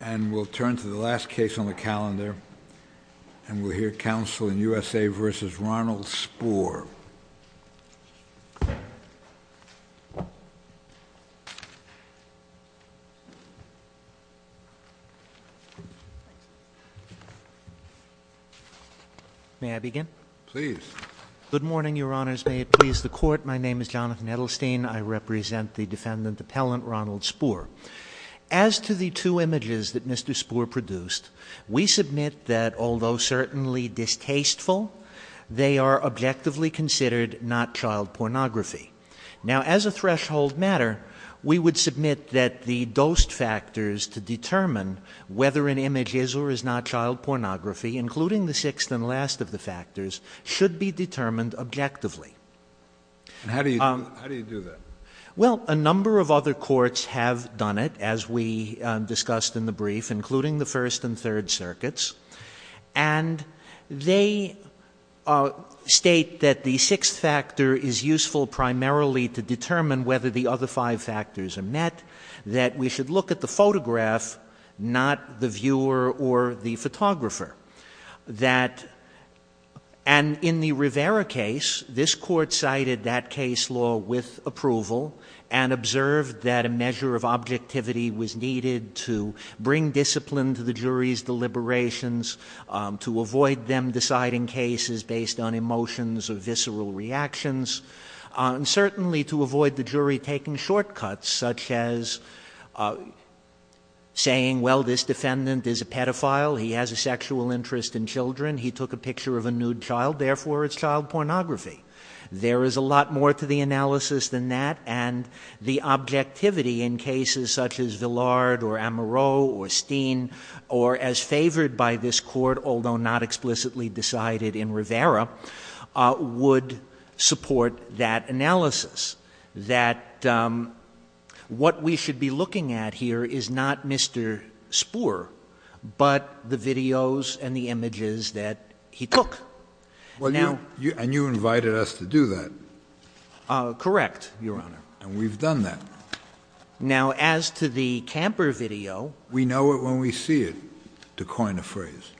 And we'll turn to the last case on the calendar, and we'll hear counsel in U.S.A. v. Ronald Spoor. May I begin? Please. Good morning, Your Honors. May it please the Court, my name is Jonathan Edelstein. I represent the defendant, Appellant Ronald Spoor. As to the two images that Mr. Spoor produced, we submit that, although certainly distasteful, they are objectively considered not child pornography. Now, as a threshold matter, we would submit that the dosed factors to determine whether an image is or is not child pornography, including the sixth and last of the factors, should be determined objectively. How do you do that? Well, a number of other courts have done it, as we discussed in the brief, including the First and Third Circuits. And they state that the sixth factor is useful primarily to determine whether the other five factors are met, that we should look at the photograph, not the viewer or the photographer. That, and in the Rivera case, this Court cited that case law with approval, and observed that a measure of objectivity was needed to bring discipline to the jury's deliberations, to avoid them deciding cases based on emotions or visceral reactions, and certainly to avoid the jury taking shortcuts, such as saying, well, this defendant is a pedophile, he has a sexual orientation disorder, and so forth. He has a sexual interest in children, he took a picture of a nude child, therefore it's child pornography. There is a lot more to the analysis than that, and the objectivity in cases such as Villard or Amoreau or Steen, or as favored by this Court, although not explicitly decided in Rivera, would support that analysis. That what we should be looking at here is not Mr. Spoor, but the videos and the images that he took. And you invited us to do that. Correct, Your Honor. And we've done that. Now, as to the Camper video... We know it when we see it, to coin a phrase.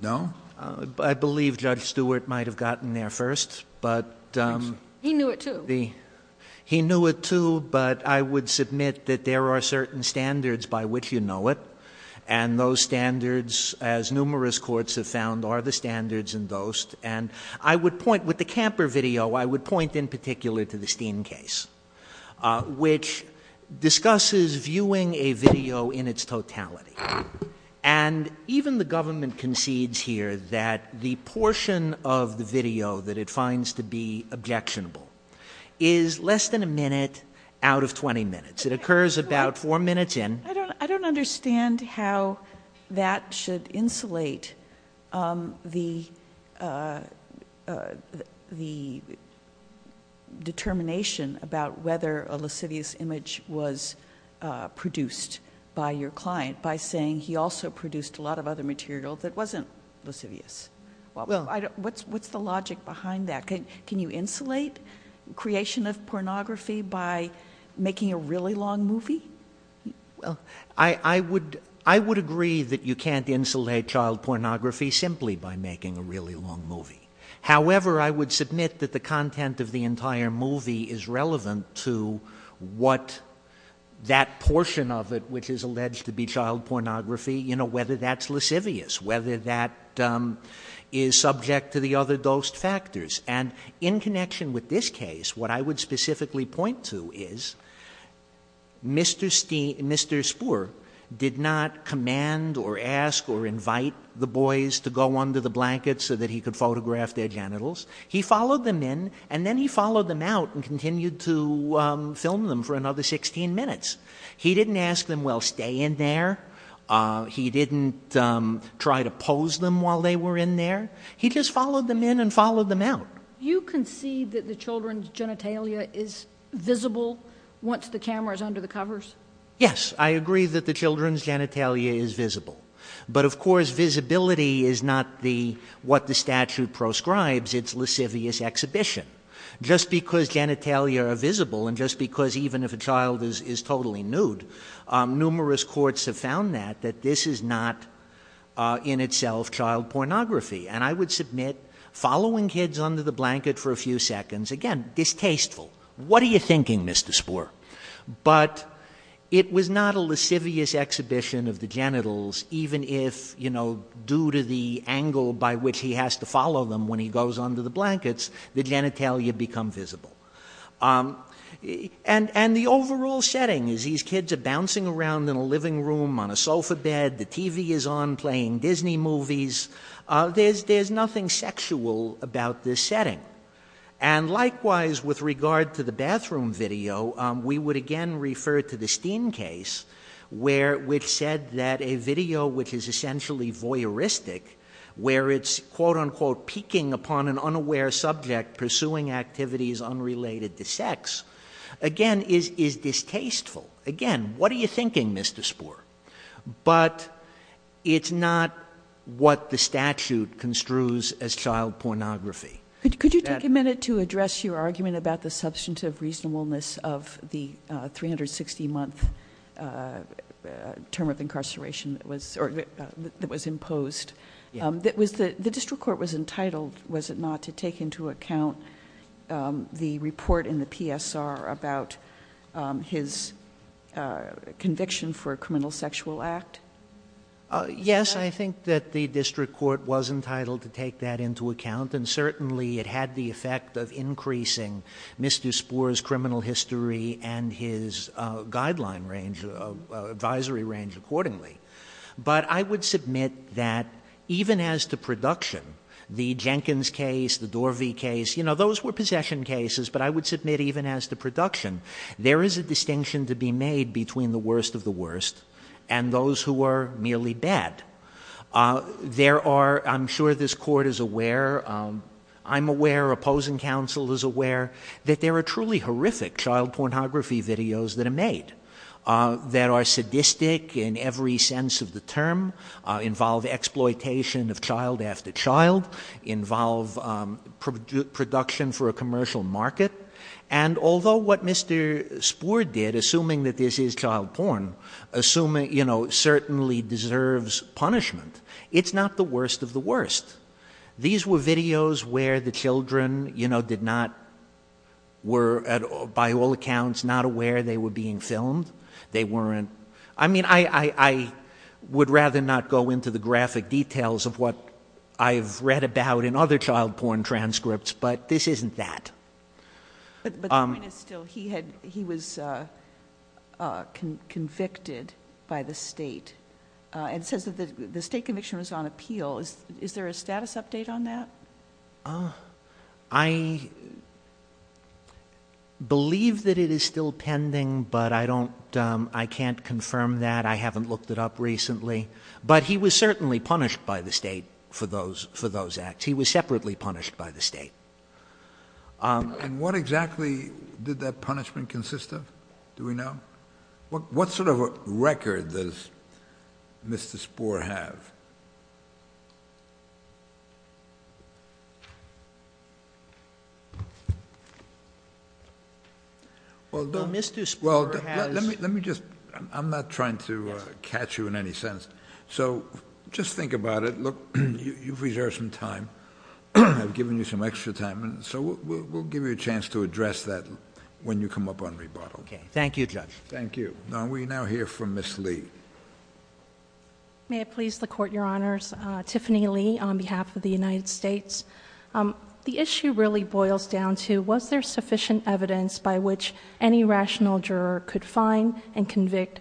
No? I believe Judge Stewart might have gotten there first, but... He knew it, too. He knew it, too, but I would submit that there are certain standards by which you know it, and those standards, as numerous courts have found, are the standards in Dost. And I would point, with the Camper video, I would point in particular to the Steen case, which discusses viewing a video in its totality. And even the government concedes here that the portion of the video that it finds to be objectionable is less than a minute out of 20 minutes. It occurs about four minutes in. And I would point to the determination about whether a lascivious image was produced by your client by saying he also produced a lot of other material that wasn't lascivious. What's the logic behind that? Can you insulate creation of pornography by making a really long movie? Well, I would agree that you can't insulate child pornography simply by making a really long movie. However, I would submit that the content of the entire movie is relevant to what that portion of it, which is alleged to be child pornography, you know, whether that's lascivious, whether that is subject to the other Dost factors. And in connection with this case, what I would specifically point to is misdemeanors. Mr. Steen, Mr. Spoor did not command or ask or invite the boys to go under the blankets so that he could photograph their genitals. He followed them in and then he followed them out and continued to film them for another 16 minutes. He didn't ask them, well, stay in there. He didn't try to pose them while they were in there. He just followed them in and followed them out. You can see that the children's genitalia is visible once the cameras under the covers. Yes, I agree that the children's genitalia is visible. But of course, visibility is not the what the statute proscribes. It's lascivious exhibition just because genitalia are visible. And just because even if a child is totally nude, numerous courts have found that, that this is not in itself child pornography. And I would submit following kids under the blanket for a few seconds, again, distasteful. What are you thinking, Mr. Spoor? But it was not a lascivious exhibition of the genitals, even if, you know, due to the angle by which he has to follow them when he goes under the blankets, the genitalia become visible. And the overall setting is these kids are bouncing around in a living room on a sofa bed. The TV is on playing Disney movies. There's nothing sexual about this setting. And likewise, with regard to the bathroom video, we would again refer to the Steen case, which said that a video which is essentially voyeuristic, where it's, quote, unquote, peeking upon an unaware subject pursuing activities unrelated to sex, again, is distasteful. Again, what are you thinking, Mr. Spoor? But it's not what the statute construes as child pornography. Could you take a minute to address your argument about the substantive reasonableness of the 360-month term of incarceration that was imposed? The district court was entitled, was it not, to take into account the report in the PSR about his conviction for a criminal sexual act? Yes, I think that the district court was entitled to take that into account, and certainly it had the effect of increasing Mr. Spoor's criminal history and his guideline range, advisory range accordingly. But I would submit that even as to production, the Jenkins case, the Dorvey case, you know, those were possession cases, but I would submit even as to production, there is a distinction to be made between the worst of the worst and those who are merely bad. There are, I'm sure this court is aware, I'm aware, opposing counsel is aware, that there are truly horrific child pornography videos that are made that are sadistic in every sense of the term, involve exploitation of child after child, involve production for a commercial market, and although what Mr. Spoor did, assuming that this is child porn, certainly deserves punishment, it's not the worst of the worst. These were videos where the children did not, were by all accounts not aware they were being filmed. They weren't, I mean, I would rather not go into the graphic details of what I've read about in other child porn transcripts, but this isn't that. But the point is still, he was convicted by the state, and it says that the state conviction was on appeal. Is there a status update on that? I believe that it is still pending, but I don't, I can't confirm that. I haven't looked it up recently. But he was certainly punished by the state for those acts. He was separately punished by the state. And what exactly did that punishment consist of? Do we know? What sort of a record does Mr. Spoor have? Well, let me just, I'm not trying to catch you in any sense. So just think about it. Look, you've reserved some time. I've given you some extra time, so we'll give you a chance to address that when you come up on rebuttal. Okay. Thank you, Judge. May it please the Court, Your Honors. Tiffany Lee on behalf of the United States. The issue really boils down to was there sufficient evidence by which any rational juror could find and convict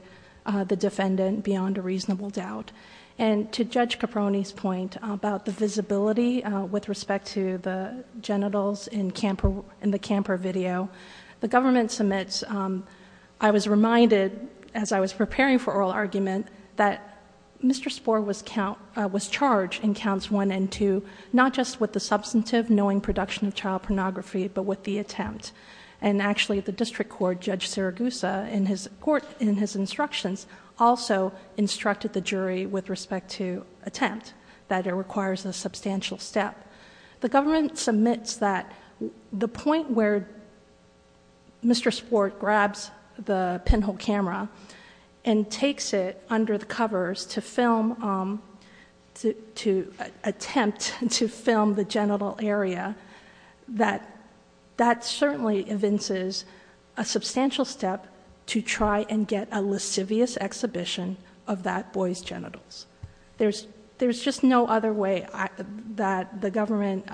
the defendant beyond a reasonable doubt? And to Judge Caproni's point about the visibility with respect to the camper video, the government submits. I was reminded as I was preparing for oral argument that Mr. Spoor was charged in counts one and two, not just with the substantive knowing production of child pornography, but with the attempt. And actually the district court, Judge Siragusa in his court, in his instructions, also instructed the jury with respect to attempt that it requires a substantial step. The government submits that the point where Mr. Spoor grabs the pinhole camera and takes it under the covers to film, to attempt to film the genital area, that certainly evinces a substantial step to try and get a lascivious exhibition of that boy's genitals. There's just no other way that the government,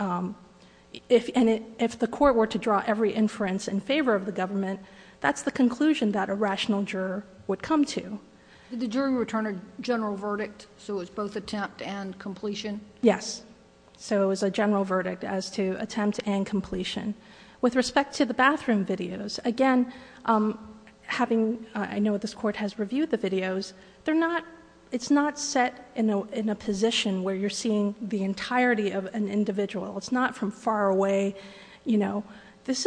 if the court were to draw every inference in favor of the government, that's the conclusion that a rational juror would come to. Did the jury return a general verdict, so it was both attempt and completion? Yes. So it was a general verdict as to attempt and completion. With respect to the bathroom videos, again, having I know this court has reviewed the videos, it's not set in a position where you're seeing the entirety of an individual. It's not from far away. It's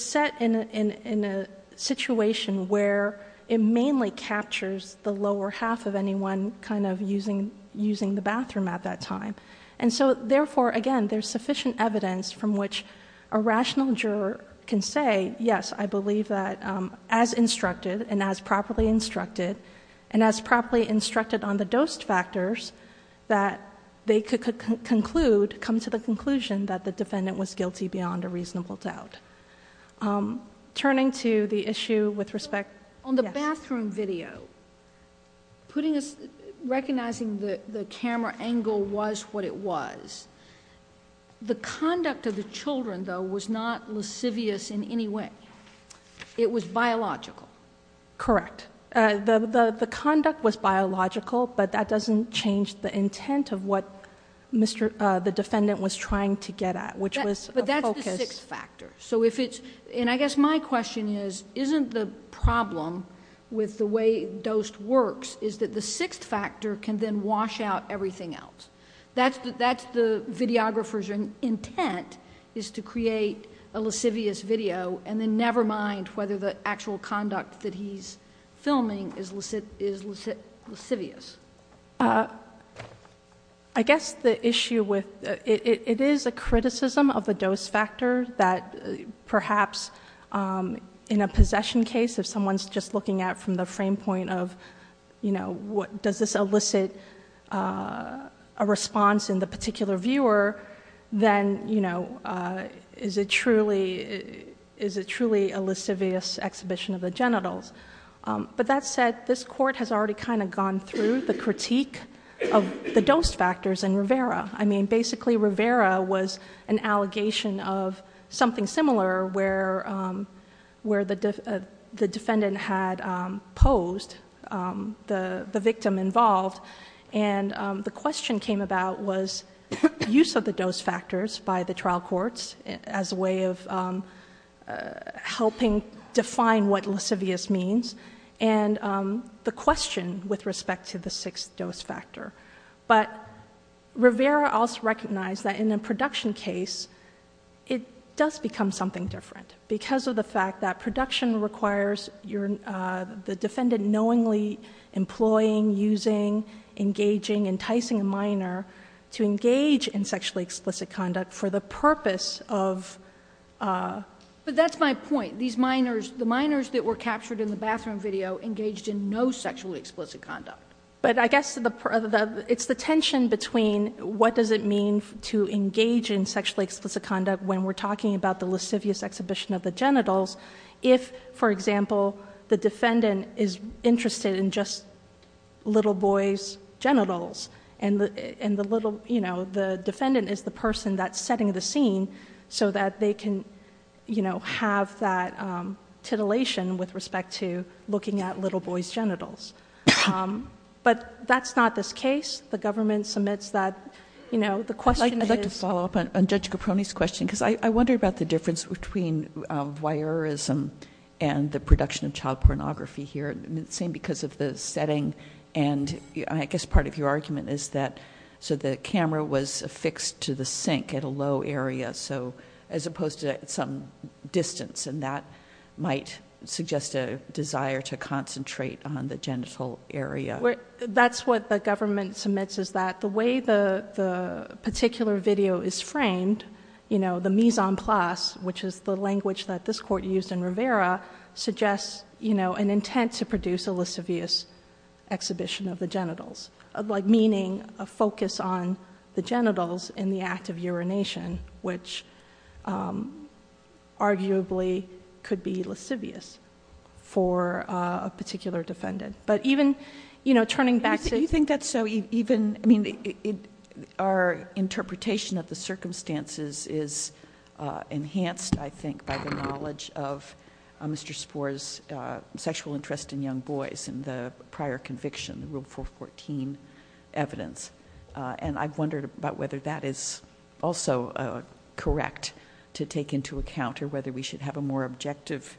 set in a situation where it mainly captures the lower half of anyone kind of using the bathroom at that time. And so, therefore, again, there's sufficient evidence from which a rational juror can say, yes, I believe that as instructed and as properly instructed, and as properly instructed on the dose factors, that they could conclude, come to the conclusion that the defendant was guilty beyond a reasonable doubt. Turning to the issue with respect, yes. In the bathroom video, recognizing the camera angle was what it was, the conduct of the children, though, was not lascivious in any way. It was biological. Correct. The conduct was biological, but that doesn't change the intent of what the defendant was trying to get at, which was a focus... with the way DOST works is that the sixth factor can then wash out everything else. That's the videographer's intent, is to create a lascivious video and then never mind whether the actual conduct that he's filming is lascivious. I guess the issue with... it is a criticism of the dose factor that perhaps in a possession case, if someone's just looking at it from the frame point of does this elicit a response in the particular viewer, then is it truly a lascivious exhibition of the genitals? That said, this Court has already gone through the critique of the dose factors in Rivera. Basically, Rivera was an allegation of something similar where the defendant had posed the victim involved, and the question came about was use of the dose factors by the trial courts as a way of helping define what lascivious means, and the question with respect to the sixth dose factor. Rivera also recognized that in a production case, it does become something different because of the fact that production requires the defendant knowingly employing, using, engaging, enticing a minor to engage in sexually explicit conduct for the purpose of... But that's my point. The minors that were captured in the bathroom video engaged in no sexually explicit conduct. What does it mean to engage in sexually explicit conduct when we're talking about the lascivious exhibition of the genitals if, for example, the defendant is interested in just little boys' genitals, and the defendant doesn't have that titillation with respect to looking at little boys' genitals? But that's not this case. The government submits that... I'd like to follow up on Judge Caproni's question, because I wonder about the difference between voyeurism and the production of child pornography here, same because of the setting, and I guess part of your argument is that the camera was distanced, and that might suggest a desire to concentrate on the genital area. That's what the government submits, is that the way the particular video is framed, the mise en place, which is the language that this Court used in Rivera, suggests an intent to produce a lascivious exhibition of the genitals, meaning a focus on the arguably could be lascivious for a particular defendant. But even turning back to... Do you think that's so even... I mean, our interpretation of the circumstances is enhanced, I think, by the knowledge of Mr. Sporre's sexual interest in young boys in the prior conviction, the Rule 414 evidence. And I've wondered about whether that is also correct to take into account, or whether we should have a more objective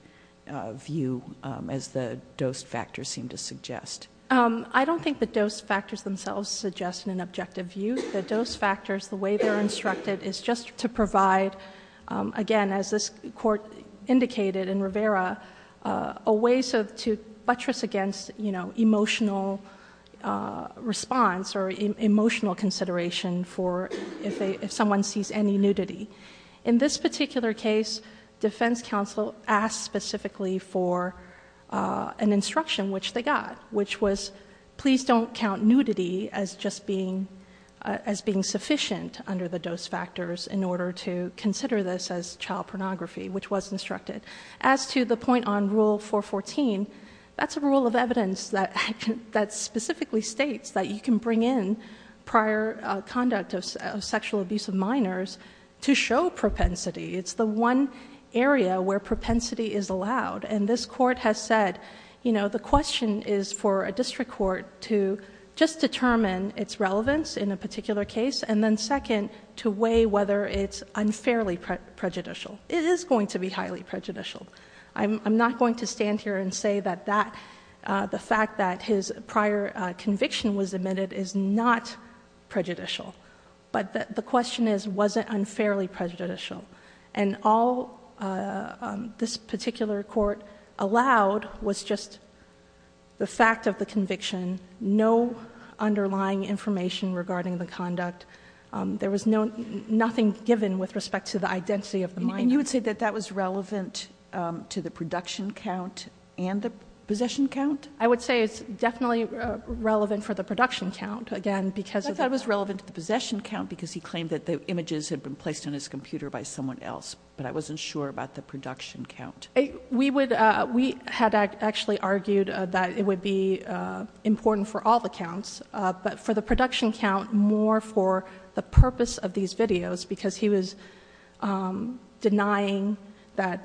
view, as the dose factors seem to suggest. I don't think the dose factors themselves suggest an objective view. The dose factors, the way they're instructed, is just to provide, again, as this Court indicated in Rivera, a way to buttress against emotional response or emotional consideration for if someone sees any nudity. In this particular case, Defense Counsel asked specifically for an instruction, which they got, which was, please don't count nudity as just being sufficient under the dose factors in order to consider this as child pornography, which was instructed. As to the point on Rule 414, that's a rule of evidence that specifically states that you can bring in prior conduct of sexual abuse of minors to show propensity. It's the one area where propensity is allowed. And this Court has said, you know, the question is for a district court to just determine its relevance in a particular case, and then second, to weigh whether it's unfairly prejudicial. It is going to be the fact that his prior conviction was admitted is not prejudicial. But the question is, was it unfairly prejudicial? And all this particular Court allowed was just the fact of the conviction, no underlying information regarding the conduct. There was nothing given with respect to the identity of the minor. Kagan. And you would say that that was relevant to the production count and the possession count? I would say it's definitely relevant for the production count, again, because of the I thought it was relevant to the possession count because he claimed that the images had been placed on his computer by someone else, but I wasn't sure about the production count. We would, we had actually argued that it would be important for all the counts, but for the production count, more for the purpose of these videos, because he was Mr.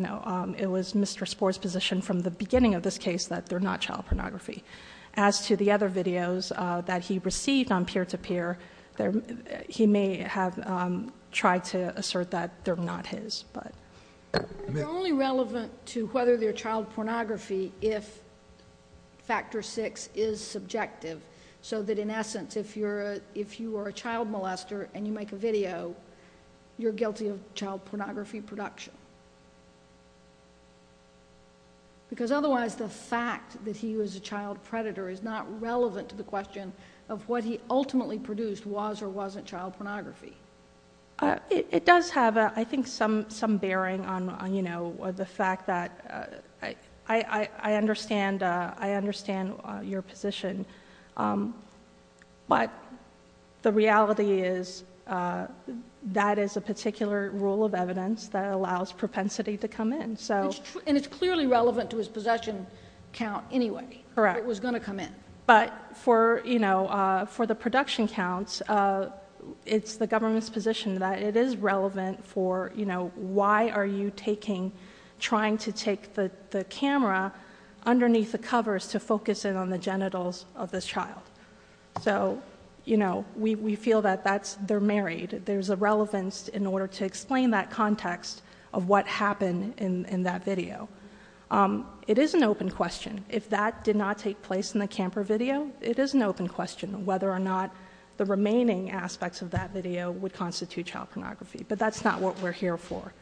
Sporr's position from the beginning of this case that they're not child pornography. As to the other videos that he received on peer-to-peer, he may have tried to assert that they're not his, but. It's only relevant to whether they're child pornography if factor six is subjective, so that in essence, if you are a child molester and you make a video, you're guilty of child pornography production. Because otherwise, the fact that he was a child predator is not relevant to the question of what he ultimately produced was or wasn't child pornography. It does have, I think, some bearing on the fact that I understand your position, but the reality is that is a particular rule of evidence that allows propensity to come in. And it's clearly relevant to his possession count anyway. Correct. It was going to come in. But for the production counts, it's the government's position that it is relevant for why are you taking, trying to take the camera underneath the covers to focus in on the genitals of this child. So we feel that they're married. There's a relevance in order to explain that context of what happened in that video. It is an open question. If that did not take place in the Camper video, it is an open question whether or not the remaining aspects of that video would constitute child pornography. But that's not what we're here for.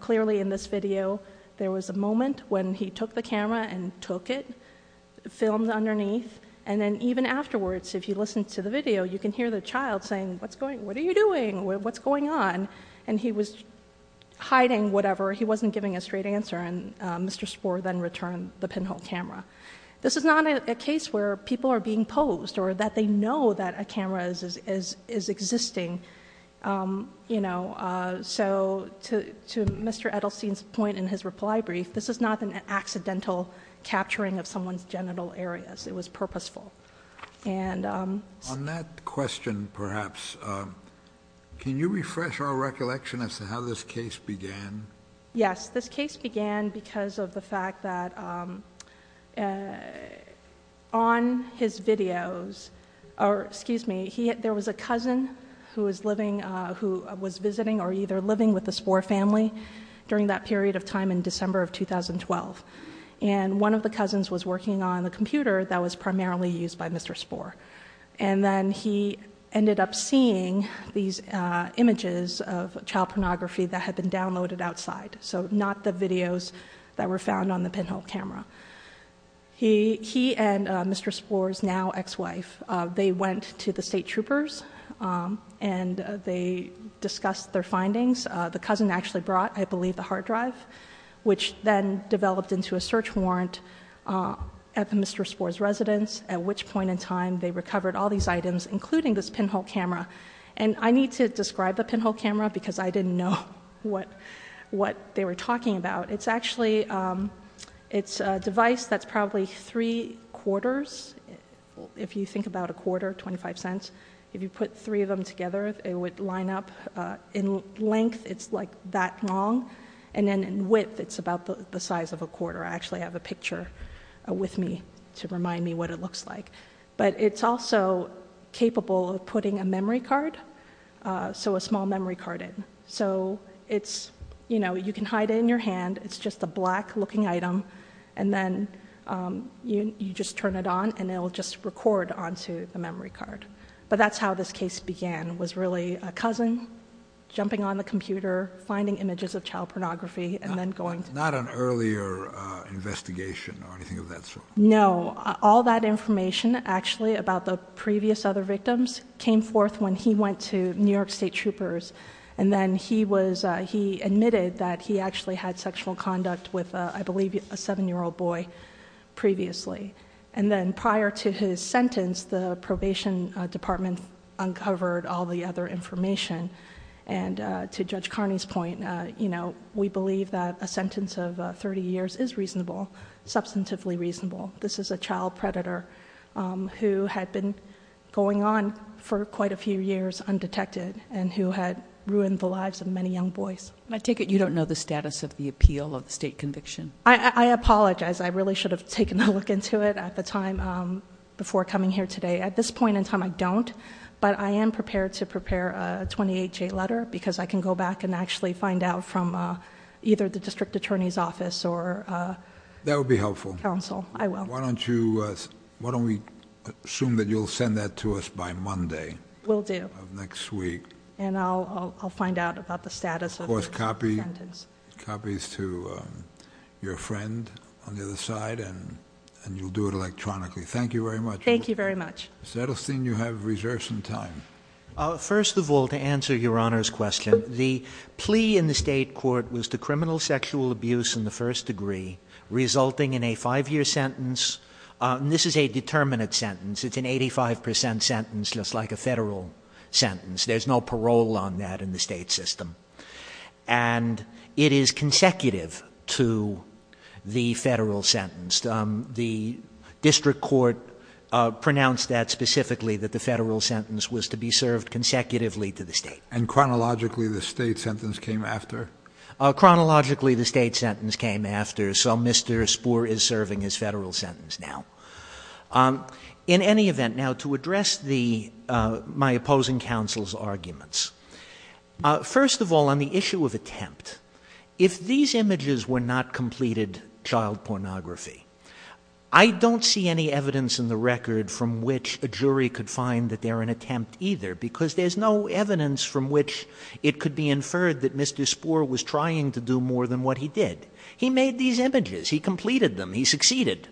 Clearly in this video, there was a moment when he took the camera and took it, filmed underneath, and then even afterwards, if you listen to the video, you can hear the child saying, what are you doing? What's going on? And he was hiding whatever. He wasn't giving a straight answer. And Mr. Spohr then returned the pinhole camera. This is not a case where people are being posed or that they know that a camera is existing. So to Mr. Edelstein's point in his reply brief, this is not an accidental capturing of someone's genital areas. It was purposeful. On that question, perhaps, can you refresh our recollection as to how this case began? Yes. This case began because of the fact that on his videos, there was a cousin who was visiting or either living with the Spohr family during that period of time in December of 2012. And one of the cousins was working on the computer that was primarily used by Mr. Spohr. And then he ended up seeing these images of child pornography that had been downloaded outside. So not the videos that were found on the pinhole camera. He and Mr. Spohr's now ex-wife, they went to the state troopers and they discussed their findings. The cousin actually brought, I believe, the hard drive, which then developed into a search warrant at that point in time. They recovered all these items, including this pinhole camera. And I need to describe the pinhole camera because I didn't know what they were talking about. It's actually a device that's probably three quarters. If you think about a quarter, 25 cents. If you put three of them together, it would line up. In length, it's like that long. And then in width, it's about the size of a quarter. I actually have a picture with me to remind me what it looks like. But it's also capable of putting a memory card, so a small memory card in. So you can hide it in your hand. It's just a black looking item. And then you just turn it on and it'll just record onto the memory card. But that's how this case began. It was really a cousin jumping on the computer, finding images of child pornography and then going. Not an earlier investigation or anything of that sort? No. All that information actually about the previous other victims came forth when he went to New York State troopers. And then he was he admitted that he actually had sexual conduct with, I believe, a seven year old boy previously. And then prior to his sentence, the probation department uncovered all the other information. And to Judge Carney's point, we believe that a sentence of 30 years is reasonable, substantively reasonable. This is a child predator who had been going on for quite a few years undetected and who had ruined the lives of many young boys. I take it you don't know the status of the appeal of the state conviction? I apologize. I really should have taken a look into it at the time before coming here today. At this point in time, I don't. But I am prepared to prepare a 28-J letter because I can go back and actually find out from either the district attorney's office or council. That would be helpful. Why don't we assume that you'll send that to us by Monday? We'll do. Of next week. And I'll find out about the status of the sentence. Of course, copy copies to your friend on the other side and you'll do it electronically. Thank you very much. Thank you very much. First of all, to answer Your Honor's question, the plea in the state court was to criminal sexual abuse in the first degree, resulting in a five year sentence. This is a determinate sentence. It's an 85 percent sentence, just like a federal sentence. There's no parole on that in the state system. And it is consecutive to the federal sentence. The district court pronounced that specifically, that the federal sentence was to be served consecutively to the state. And chronologically the state sentence came after? Chronologically the state sentence came after. So Mr. Spoor is serving his federal sentence now. In any event, now to address my opposing counsel's arguments. First of all, on the issue of attempt, if these images were not completed child pornography, I don't see any evidence in the record from which a jury could find that they're an attempt either. Because there's no evidence from which it could be inferred that Mr. Spoor was trying to do more than what he did. He made these images. He completed them. He succeeded.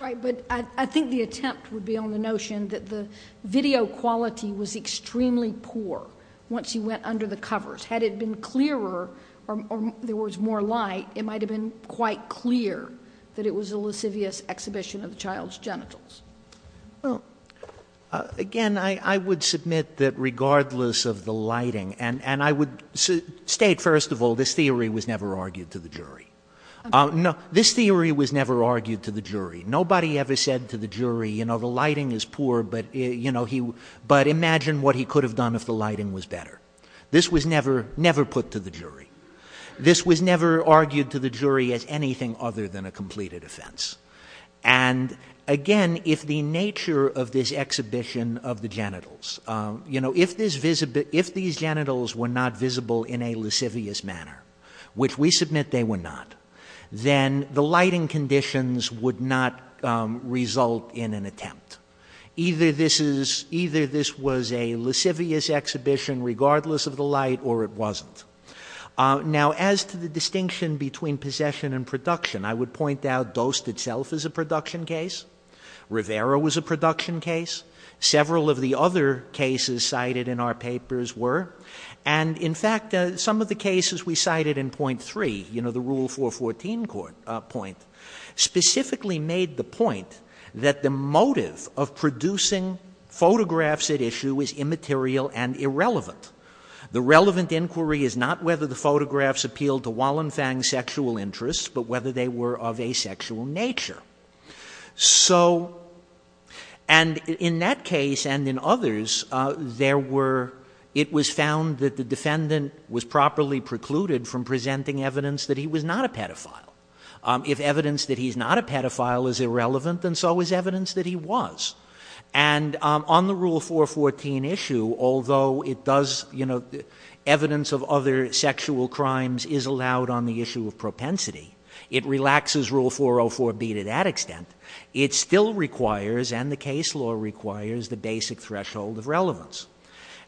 Right. But I think the attempt would be on the notion that the video quality was extremely poor once he went under the covers. Had it been clearer or there was more light, it might have been quite clear that it was a lascivious exhibition of the child's genitals. Again, I would submit that regardless of the lighting, and I would state first of all, this theory was never argued to the jury. This theory was never argued to the jury. Nobody ever said to the jury, the lighting is poor, but imagine what he could have done if the lighting was better. This was never put to the jury. This was never argued to the jury as anything other than a completed offense. And again, if the nature of this exhibition of the genitals, if these genitals were not visible in a lascivious manner, which we submit they were not, then the lighting conditions would not result in an attempt. Either this was a Now, as to the distinction between possession and production, I would point out Dost itself is a production case. Rivera was a production case. Several of the other cases cited in our papers were. And in fact, some of the cases we cited in point three, you know, the Rule 414 point, So, and in that case, and in others, there were, it was found that the defendant was properly precluded from presenting evidence that he was not a pedophile. If evidence that he's not a pedophile is irrelevant, then so is evidence that he was. And on the Rule 414 issue, although it does, you know, evidence of other sexual crimes is allowed on the issue of propensity, it relaxes Rule 404B to that extent. It still requires, and the case law requires, the basic threshold of relevance.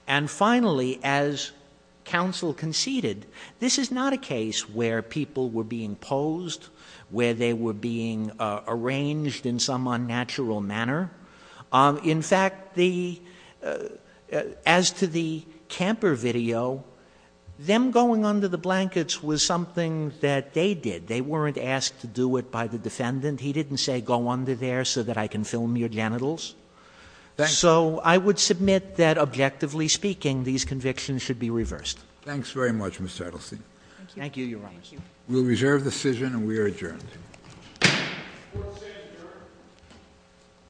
And finally, as counsel conceded, this is not a case where people were being posed, where they were being arranged in some manner. As to the camper video, them going under the blankets was something that they did. They weren't asked to do it by the defendant. He didn't say, go under there so that I can film your genitals. So I would submit that objectively speaking, these convictions should be reversed. Thanks very much, Mr. Edelstein. Thank you, Your Honor. We'll reserve the decision and we are adjourned.